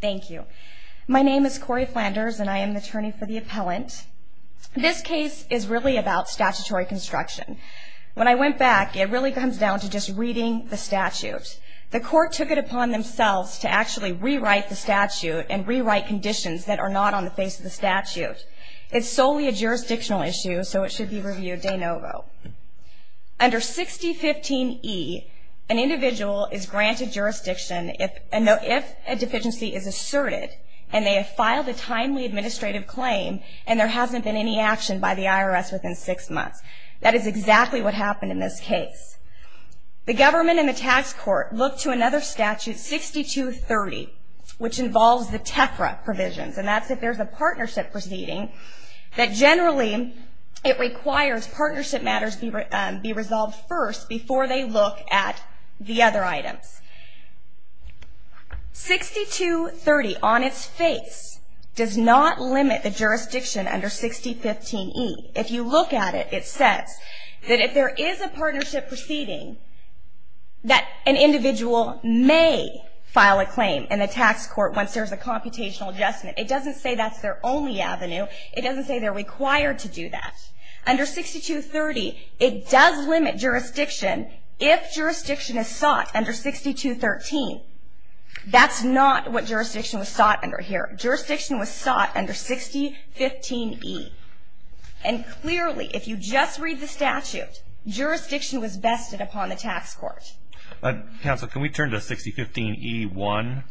Thank you. My name is Cori Flanders, and I am the attorney for the appellant. This case is really about statutory construction. When I went back, it really comes down to just reading the statute. The court took it upon themselves to actually rewrite the statute and rewrite conditions that are not on the face of the statute. It's solely a jurisdictional issue, so it should be reviewed de novo. Under 6015E, an individual is granted jurisdiction if a deficiency is asserted, and they have filed a timely administrative claim, and there hasn't been any action by the IRS within six months. That is exactly what happened in this case. The government and the tax court looked to another statute, 6230, which involves the TEFRA provisions, and that's if there's a partnership proceeding, that generally it requires partnership matters be resolved first before they look at the other items. 6230 on its face does not limit the jurisdiction under 6015E. If you look at it, it says that if there is a partnership proceeding, that an individual may file a claim in the tax court once there's a computational adjustment. It doesn't say that's their only avenue. It doesn't say they're required to do that. Under 6230, it does limit jurisdiction if jurisdiction is sought under 6213. That's not what jurisdiction was sought under here. Jurisdiction was sought under 6015E. And clearly, if you just read the statute, jurisdiction was bested upon the tax court. Counsel, can we turn to 6015E1?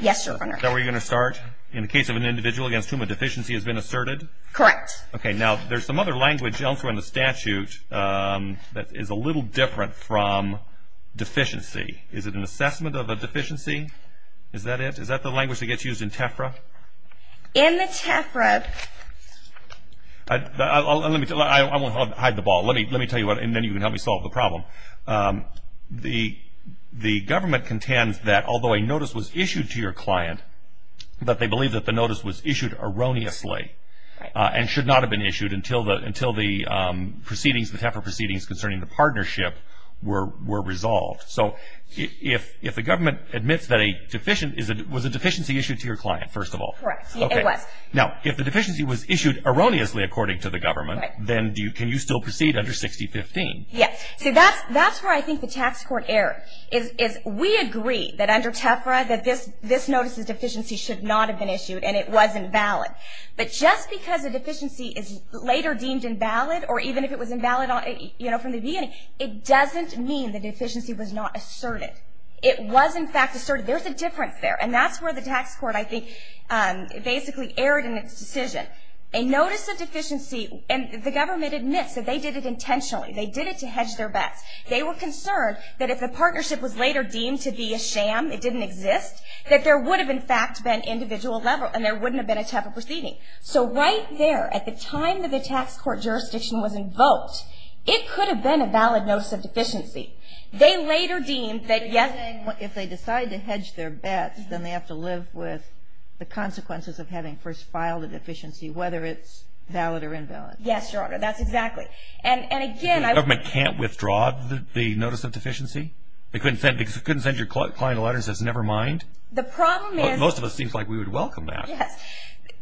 Yes, Your Honor. Is that where you're going to start? In the case of an individual against whom a deficiency has been asserted? Correct. Okay. Now, there's some other language elsewhere in the statute that is a little different from deficiency. Is it an assessment of a deficiency? Is that it? Is that the language that gets used in TEFRA? In the TEFRA. Let me tell you. I won't hide the ball. Let me tell you, and then you can help me solve the problem. The government contends that although a notice was issued to your client, that they believe that the notice was issued erroneously and should not have been issued until the proceedings, the TEFRA proceedings concerning the partnership were resolved. So if the government admits that a deficiency was a deficiency issued to your client, first of all. Correct. It was. Now, if the deficiency was issued erroneously, according to the government, then can you still proceed under 6015? Yes. See, that's where I think the tax court error is. We agree that under TEFRA that this notice's deficiency should not have been issued, and it wasn't valid. But just because a deficiency is later deemed invalid, or even if it was invalid from the beginning, it doesn't mean the deficiency was not asserted. It was, in fact, asserted. There's a difference there, and that's where the tax court, I think, basically erred in its decision. A notice of deficiency, and the government admits that they did it intentionally. They did it to hedge their bets. They were concerned that if the partnership was later deemed to be a sham, it didn't exist, that there would have, in fact, been individual level, and there wouldn't have been a TEFRA proceeding. So right there, at the time that the tax court jurisdiction was invoked, it could have been a valid notice of deficiency. They later deemed that, yes. If they decide to hedge their bets, then they have to live with the consequences of having first filed a deficiency, whether it's valid or invalid. Yes, Your Honor. That's exactly. And again. The government can't withdraw the notice of deficiency? They couldn't send your client a letter that says, never mind? The problem is. Most of us seem like we would welcome that. Yes.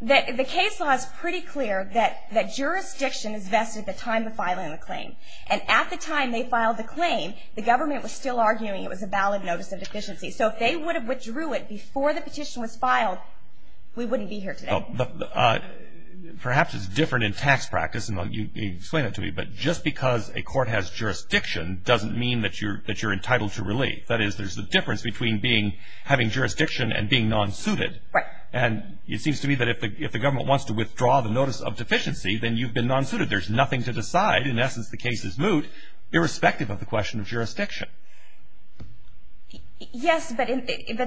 The case law is pretty clear that jurisdiction is vested at the time of filing the claim. And at the time they filed the claim, the government was still arguing it was a valid notice of deficiency. So if they would have withdrew it before the petition was filed, we wouldn't be here today. Perhaps it's different in tax practice, and you explain it to me, but just because a court has jurisdiction doesn't mean that you're entitled to relief. That is, there's a difference between having jurisdiction and being non-suited. Right. And it seems to me that if the government wants to withdraw the notice of deficiency, then you've been non-suited. There's nothing to decide. In essence, the case is moot, irrespective of the question of jurisdiction. Yes, but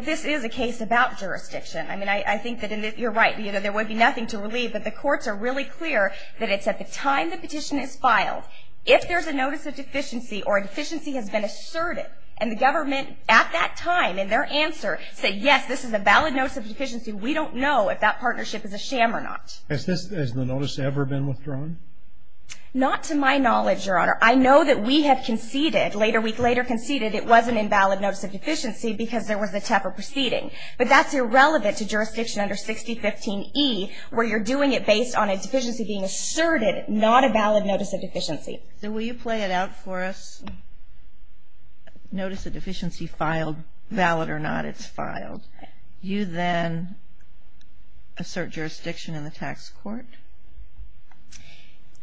this is a case about jurisdiction. I mean, I think that you're right. There would be nothing to relieve, but the courts are really clear that it's at the time the petition is filed, if there's a notice of deficiency or a deficiency has been asserted, and the government at that time in their answer said, yes, this is a valid notice of deficiency. We don't know if that partnership is a sham or not. Has the notice ever been withdrawn? Not to my knowledge, Your Honor. I know that we have conceded, a week later conceded it was an invalid notice of deficiency because there was a tougher proceeding. But that's irrelevant to jurisdiction under 6015E, where you're doing it based on a deficiency being asserted, not a valid notice of deficiency. So will you play it out for us? Notice of deficiency filed, valid or not, it's filed. You then assert jurisdiction in the tax court.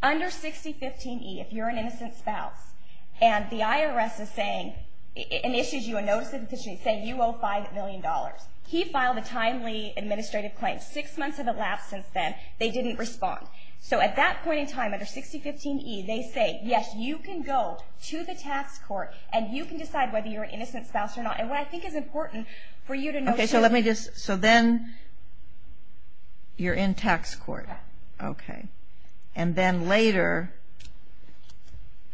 Under 6015E, if you're an innocent spouse, and the IRS is saying, it issues you a notice of deficiency saying you owe $5 million. He filed a timely administrative claim. Six months have elapsed since then. They didn't respond. So at that point in time, under 6015E, they say, yes, you can go to the tax court and you can decide whether you're an innocent spouse or not. And what I think is important for you to know. Okay, so let me just, so then you're in tax court. Okay. And then later,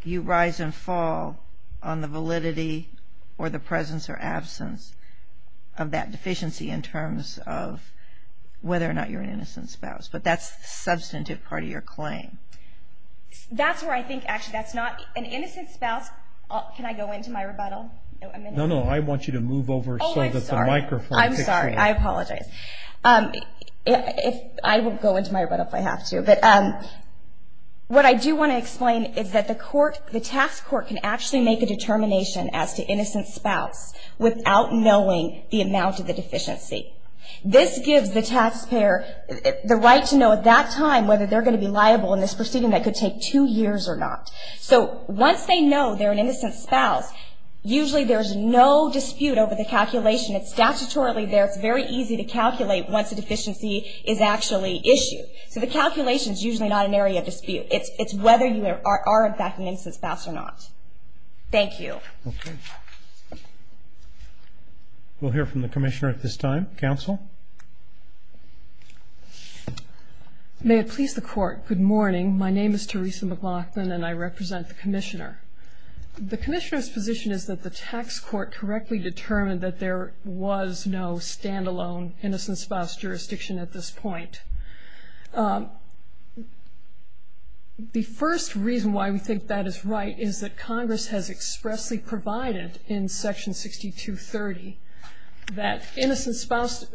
you rise and fall on the validity or the presence or absence of that deficiency in terms of whether or not you're an innocent spouse. But that's the substantive part of your claim. That's where I think, actually, that's not, an innocent spouse, can I go into my rebuttal? No, no, I want you to move over so that the microphone. Oh, I'm sorry. I'm sorry. I apologize. I will go into my rebuttal if I have to. But what I do want to explain is that the court, the tax court can actually make a determination as to innocent spouse without knowing the amount of the deficiency. This gives the taxpayer the right to know at that time whether they're going to be liable in this proceeding that could take two years or not. So once they know they're an innocent spouse, usually there's no dispute over the calculation. It's statutorily there. It's very easy to calculate once a deficiency is actually issued. So the calculation is usually not an area of dispute. It's whether you are, in fact, an innocent spouse or not. Thank you. Okay. We'll hear from the commissioner at this time. Counsel? May it please the court, good morning. My name is Theresa McLaughlin, and I represent the commissioner. The commissioner's position is that the tax court correctly determined that there was no stand-alone innocent spouse jurisdiction at this point. The first reason why we think that is right is that Congress has expressly provided in Section 6230 that innocent spouse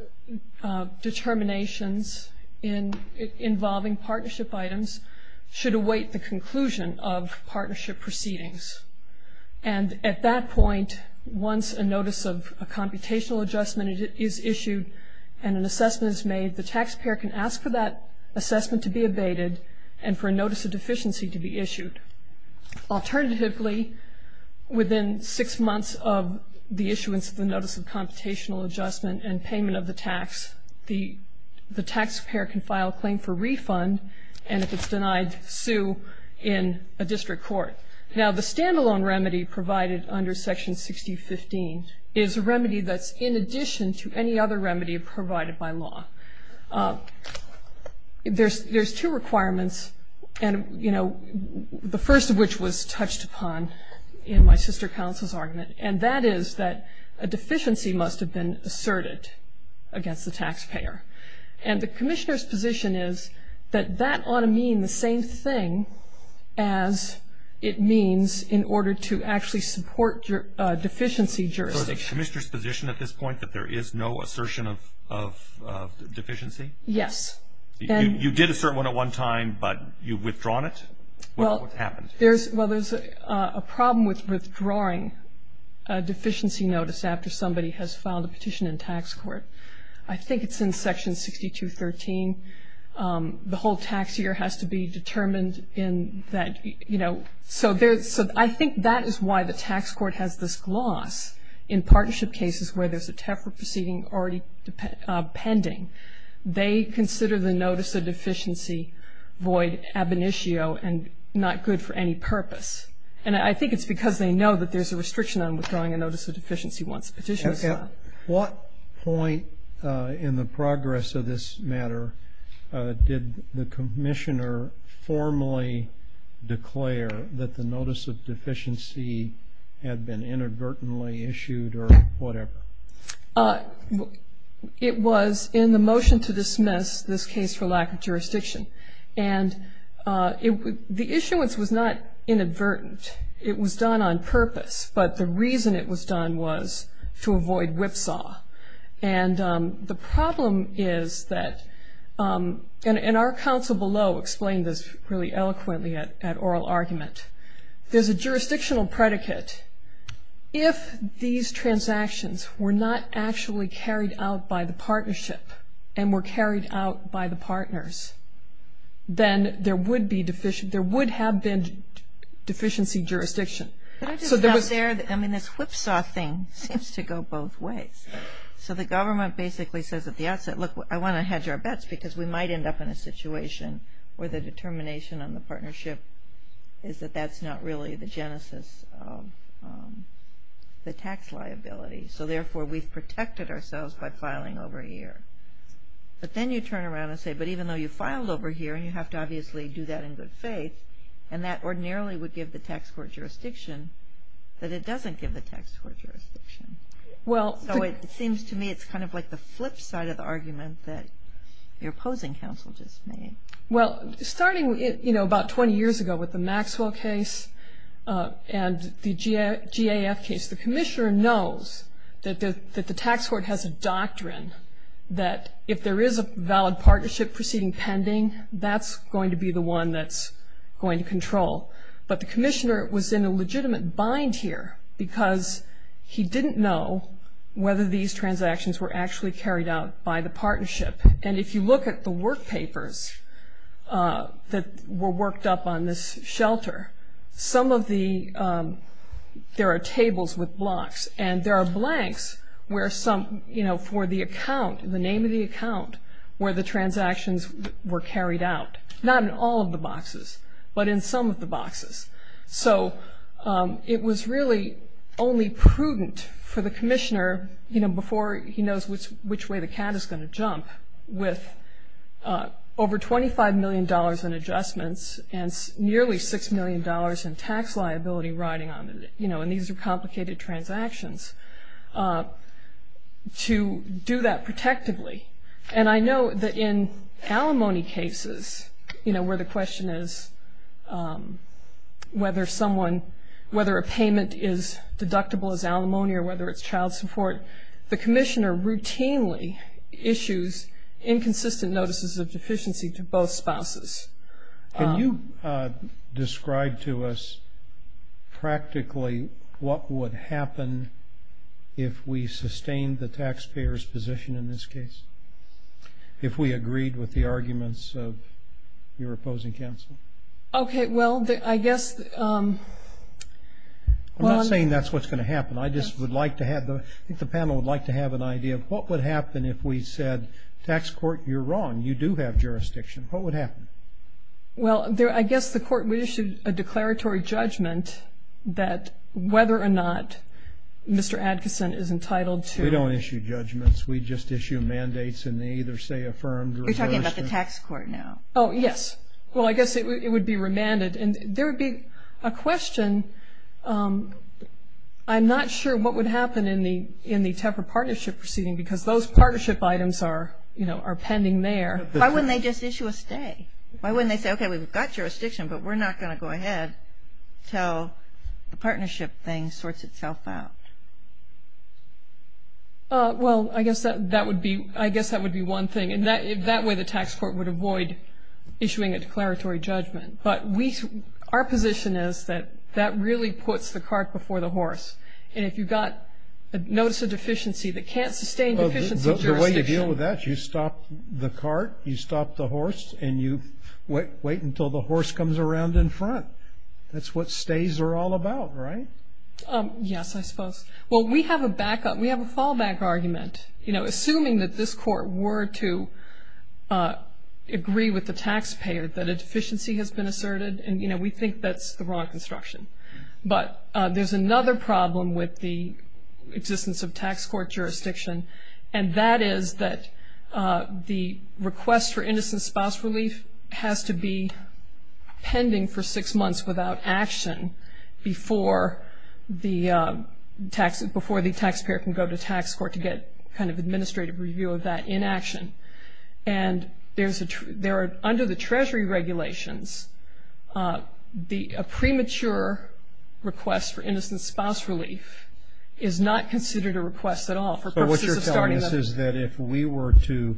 determinations involving partnership items should await the conclusion of partnership proceedings. And at that point, once a notice of a computational adjustment is issued and an assessment is made, the taxpayer can ask for that assessment to be abated and for a notice of deficiency to be issued. Alternatively, within six months of the issuance of the notice of computational adjustment and payment of the tax, the taxpayer can file a claim for refund, and if it's denied, sue in a district court. Now, the stand-alone remedy provided under Section 6015 is a remedy that's, in addition to any other remedy provided by law. There's two requirements, and, you know, the first of which was touched upon in my sister counsel's argument, and that is that a deficiency must have been asserted against the taxpayer. And the commissioner's position is that that ought to mean the same thing as it means in order to actually support deficiency jurisdiction. So is the commissioner's position at this point that there is no assertion of deficiency? Yes. You did assert one at one time, but you've withdrawn it? What happened? Well, there's a problem with withdrawing a deficiency notice after somebody has filed a petition in tax court. I think it's in Section 6213. The whole tax year has to be determined in that, you know. So I think that is why the tax court has this gloss in partnership cases where there's a TAFRA proceeding already pending. They consider the notice of deficiency void ab initio and not good for any purpose. And I think it's because they know that there's a restriction on withdrawing a notice of deficiency once a petition is filed. What point in the progress of this matter did the commissioner formally declare that the notice of deficiency had been inadvertently issued or whatever? It was in the motion to dismiss this case for lack of jurisdiction. And the issuance was not inadvertent. It was done on purpose. But the reason it was done was to avoid whipsaw. And the problem is that, and our counsel below explained this really eloquently at oral argument, there's a jurisdictional predicate. If these transactions were not actually carried out by the partnership and were carried out by the partners, then there would have been deficiency jurisdiction. But I just felt there, I mean, this whipsaw thing seems to go both ways. So the government basically says at the outset, look, I want to hedge our bets because we might end up in a situation where the determination on the partnership is that that's not really the genesis of the tax liability. So therefore, we've protected ourselves by filing over a year. But then you turn around and say, but even though you filed over a year, and you have to obviously do that in good faith, and that ordinarily would give the tax court jurisdiction, that it doesn't give the tax court jurisdiction. So it seems to me it's kind of like the flip side of the argument that your opposing counsel just made. Well, starting, you know, about 20 years ago with the Maxwell case and the GAF case, the commissioner knows that the tax court has a doctrine that if there is a valid partnership proceeding pending, that's going to be the one that's going to control. But the commissioner was in a legitimate bind here because he didn't know whether these transactions were actually carried out by the partnership. And if you look at the work papers that were worked up on this shelter, some of the, there are tables with blocks, and there are blanks where some, you know, for the account, the name of the account where the transactions were carried out. Not in all of the boxes, but in some of the boxes. So it was really only prudent for the commissioner, you know, before he knows which way the cat is going to jump, with over $25 million in adjustments and nearly $6 million in tax liability riding on it. You know, and these are complicated transactions. To do that protectively. And I know that in alimony cases, you know, where the question is whether someone, whether a payment is deductible as alimony or whether it's child support, the commissioner routinely issues inconsistent notices of deficiency to both spouses. Can you describe to us practically what would happen if we sustained the taxpayer's position in this case? If we agreed with the arguments of your opposing counsel? Okay. Well, I guess. I'm not saying that's what's going to happen. I just would like to have, I think the panel would like to have an idea of what would happen if we said tax court, you're wrong, you do have jurisdiction. What would happen? Well, I guess the court would issue a declaratory judgment that whether or not Mr. Adkison is entitled to. We don't issue judgments. We just issue mandates and they either say affirmed or reversed. You're talking about the tax court now. Oh, yes. Well, I guess it would be remanded. And there would be a question, I'm not sure what would happen in the TEPRA partnership proceeding because those partnership items are, you know, are pending there. Why wouldn't they just issue a stay? Why wouldn't they say, okay, we've got jurisdiction, but we're not going to go ahead until the partnership thing sorts itself out? Well, I guess that would be one thing. And that way the tax court would avoid issuing a declaratory judgment. But our position is that that really puts the cart before the horse. And if you've got a notice of deficiency that can't sustain deficiency jurisdiction. The way you deal with that is you stop the cart, you stop the horse, and you wait until the horse comes around in front. That's what stays are all about, right? Yes, I suppose. Well, we have a backup. We have a fallback argument. You know, assuming that this court were to agree with the taxpayer that a deficiency has been asserted, and, you know, we think that's the wrong construction. But there's another problem with the existence of tax court jurisdiction, and that is that the request for innocent spouse relief has to be pending for six months without action before the taxpayer can go to tax court to get kind of administrative review of that inaction. And under the Treasury regulations, a premature request for innocent spouse relief is not considered a request at all. So what you're telling us is that if we were to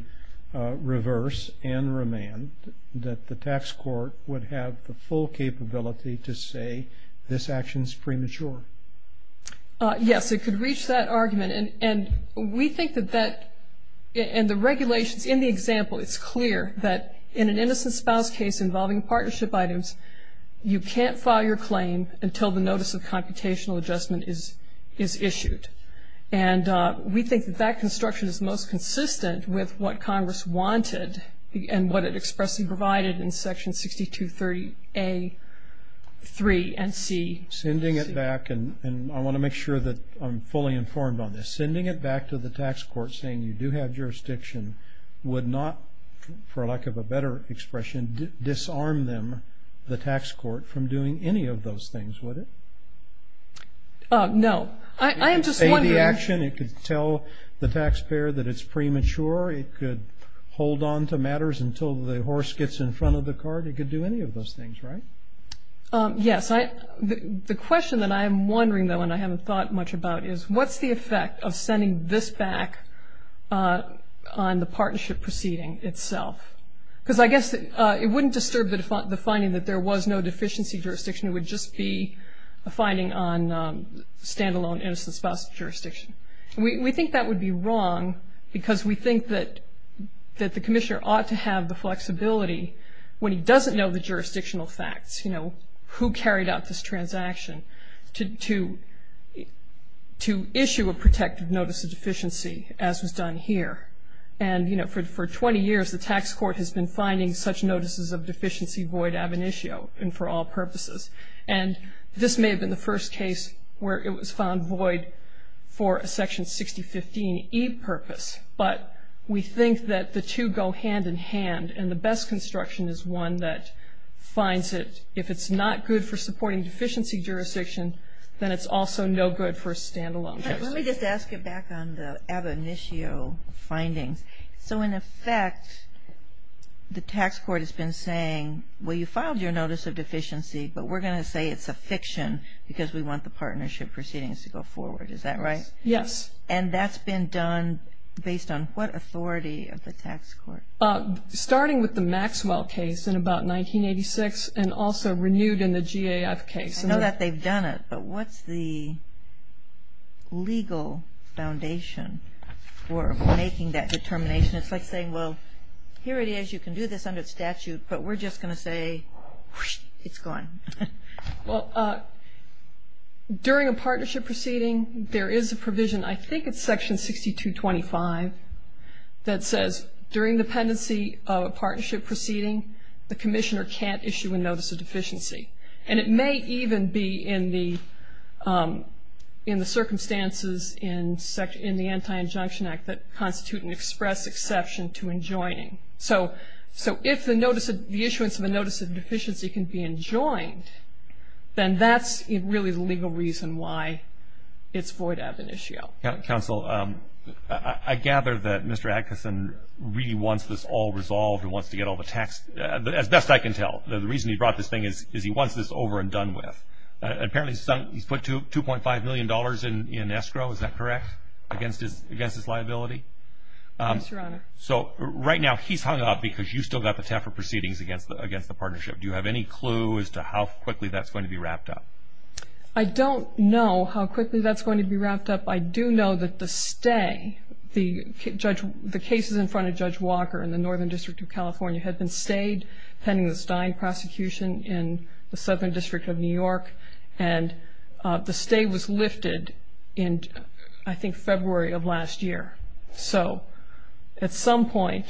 reverse and remand, that the tax court would have the full capability to say this action is premature? Yes, it could reach that argument. And we think that that and the regulations in the example, it's clear that in an innocent spouse case involving partnership items, you can't file your claim until the notice of computational adjustment is issued. And we think that that construction is most consistent with what Congress wanted and what it expressly provided in Section 6230A3 and C. Sending it back, and I want to make sure that I'm fully informed on this, sending it back to the tax court saying you do have jurisdiction would not, for lack of a better expression, disarm them, the tax court, from doing any of those things, would it? No. I am just wondering. It could say the action. It could tell the taxpayer that it's premature. It could hold on to matters until the horse gets in front of the cart. It could do any of those things, right? Yes. The question that I am wondering, though, and I haven't thought much about, is what's the effect of sending this back on the partnership proceeding itself? Because I guess it wouldn't disturb the finding that there was no deficiency jurisdiction. It would just be a finding on stand-alone innocent spouse jurisdiction. We think that would be wrong because we think that the commissioner ought to have the flexibility, when he doesn't know the jurisdictional facts, you know, who carried out this transaction to issue a protective notice of deficiency, as was done here. And, you know, for 20 years, the tax court has been finding such notices of deficiency void ab initio and for all purposes. And this may have been the first case where it was found void for a Section 6015E purpose. But we think that the two go hand in hand, and the best construction is one that finds it. If it's not good for supporting deficiency jurisdiction, then it's also no good for a stand-alone case. Let me just ask you back on the ab initio findings. So, in effect, the tax court has been saying, well, you filed your notice of deficiency, but we're going to say it's a fiction because we want the partnership proceedings to go forward. Is that right? Yes. And that's been done based on what authority of the tax court? Starting with the Maxwell case in about 1986 and also renewed in the GAF case. I know that they've done it, but what's the legal foundation for making that determination? It's like saying, well, here it is. You can do this under statute, but we're just going to say it's gone. Well, during a partnership proceeding, there is a provision, I think it's Section 6225, that says during dependency of a partnership proceeding, the commissioner can't issue a notice of deficiency. And it may even be in the circumstances in the Anti-Injunction Act that constitute an express exception to enjoining. So if the issuance of a notice of deficiency can be enjoined, then that's really the legal reason why it's void ab initio. Counsel, I gather that Mr. Atkinson really wants this all resolved and wants to get all the tax as best I can tell. The reason he brought this thing is he wants this over and done with. Apparently he's put $2.5 million in escrow, is that correct, against his liability? Yes, Your Honor. So right now he's hung up because you've still got the TAFRA proceedings against the partnership. Do you have any clue as to how quickly that's going to be wrapped up? I don't know how quickly that's going to be wrapped up. I do know that the stay, the cases in front of Judge Walker in the Northern District of California had been stayed pending the Stein prosecution in the Southern District of New York, and the stay was lifted in, I think, February of last year. So at some point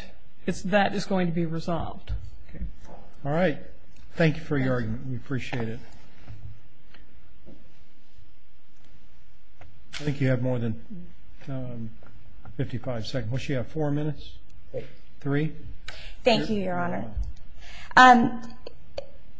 that is going to be resolved. All right. Thank you for your argument. We appreciate it. I think you have more than 55 seconds. What do you have, four minutes? Three? Thank you, Your Honor.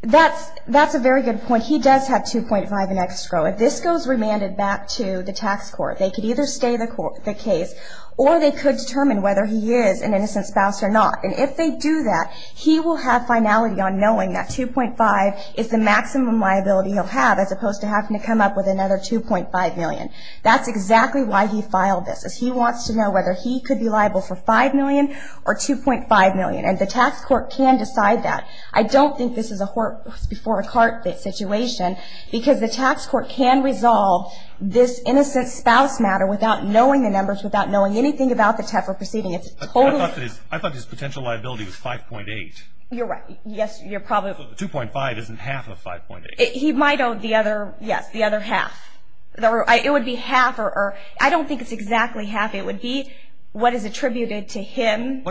That's a very good point. He does have $2.5 million in escrow. If this goes remanded back to the tax court, they could either stay the case or they could determine whether he is an innocent spouse or not. And if they do that, he will have finality on knowing that $2.5 million is the maximum liability he'll have, as opposed to having to come up with another $2.5 million. That's exactly why he filed this, is he wants to know whether he could be liable for $5 million or $2.5 million, and the tax court can decide that. I don't think this is a horse before a cart situation, because the tax court can resolve this innocent spouse matter without knowing the numbers, without knowing anything about the TEPA proceeding. I thought his potential liability was $5.8. You're right. Yes, you're probably right. So the $2.5 isn't half of $5.8. He might owe the other, yes, the other half. It would be half, or I don't think it's exactly half. It would be what is attributed to him.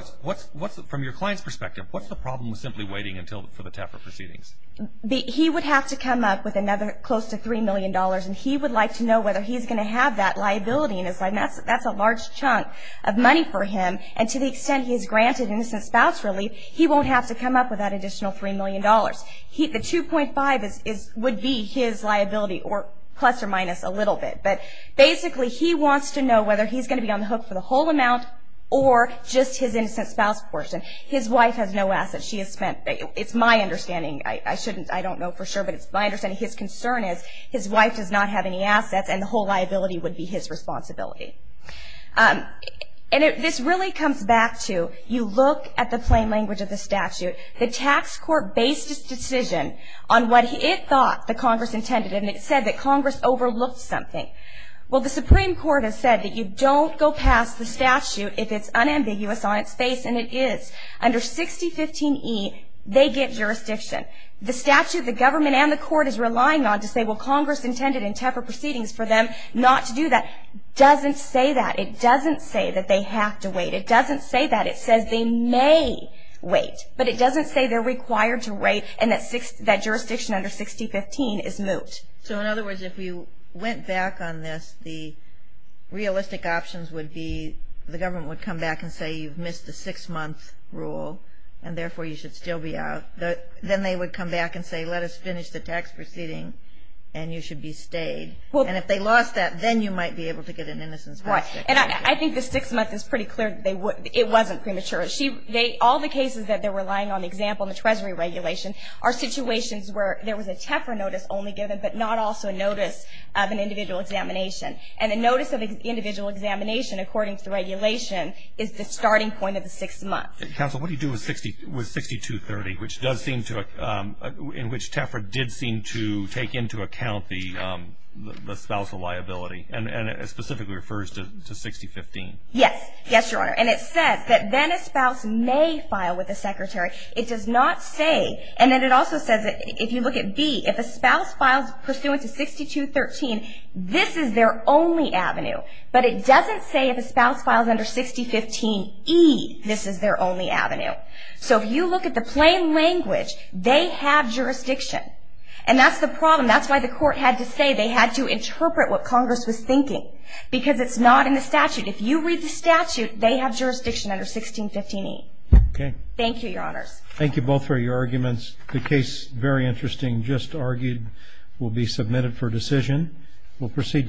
From your client's perspective, what's the problem with simply waiting for the TEPA proceedings? He would have to come up with another close to $3 million, and he would like to know whether he's going to have that liability in his life. That's a large chunk of money for him, and to the extent he's granted innocent spouse relief, the $2.5 would be his liability, plus or minus a little bit. But basically he wants to know whether he's going to be on the hook for the whole amount or just his innocent spouse portion. His wife has no assets. It's my understanding. I don't know for sure, but it's my understanding. His concern is his wife does not have any assets, and the whole liability would be his responsibility. And this really comes back to you look at the plain language of the statute. The tax court based its decision on what it thought the Congress intended, and it said that Congress overlooked something. Well, the Supreme Court has said that you don't go past the statute if it's unambiguous on its face, and it is. Under 6015E, they get jurisdiction. The statute, the government, and the court is relying on to say, well, Congress intended in TEPA proceedings for them not to do that. It doesn't say that. It doesn't say that they have to wait. It doesn't say that. It says they may wait. But it doesn't say they're required to wait and that jurisdiction under 6015 is moot. So, in other words, if you went back on this, the realistic options would be the government would come back and say you've missed the six-month rule, and therefore you should still be out. Then they would come back and say let us finish the tax proceeding, and you should be stayed. And if they lost that, then you might be able to get an innocence protection. And I think the six-month is pretty clear. It wasn't premature. All the cases that they're relying on, the example in the Treasury regulation, are situations where there was a TEFRA notice only given, but not also a notice of an individual examination. And a notice of an individual examination, according to the regulation, is the starting point of the six months. Counsel, what do you do with 6230, which does seem to – in which TEFRA did seem to take into account the spousal liability, and it specifically refers to 6015? Yes. Yes, Your Honor. And it says that then a spouse may file with the secretary. It does not say – and then it also says that if you look at B, if a spouse files pursuant to 6213, this is their only avenue. But it doesn't say if a spouse files under 6015E, this is their only avenue. So, if you look at the plain language, they have jurisdiction. And that's the problem. That's why the court had to say they had to interpret what Congress was thinking, because it's not in the statute. If you read the statute, they have jurisdiction under 1615E. Okay. Thank you, Your Honors. Thank you both for your arguments. The case, very interesting, just argued, will be submitted for decision. We'll proceed to the next.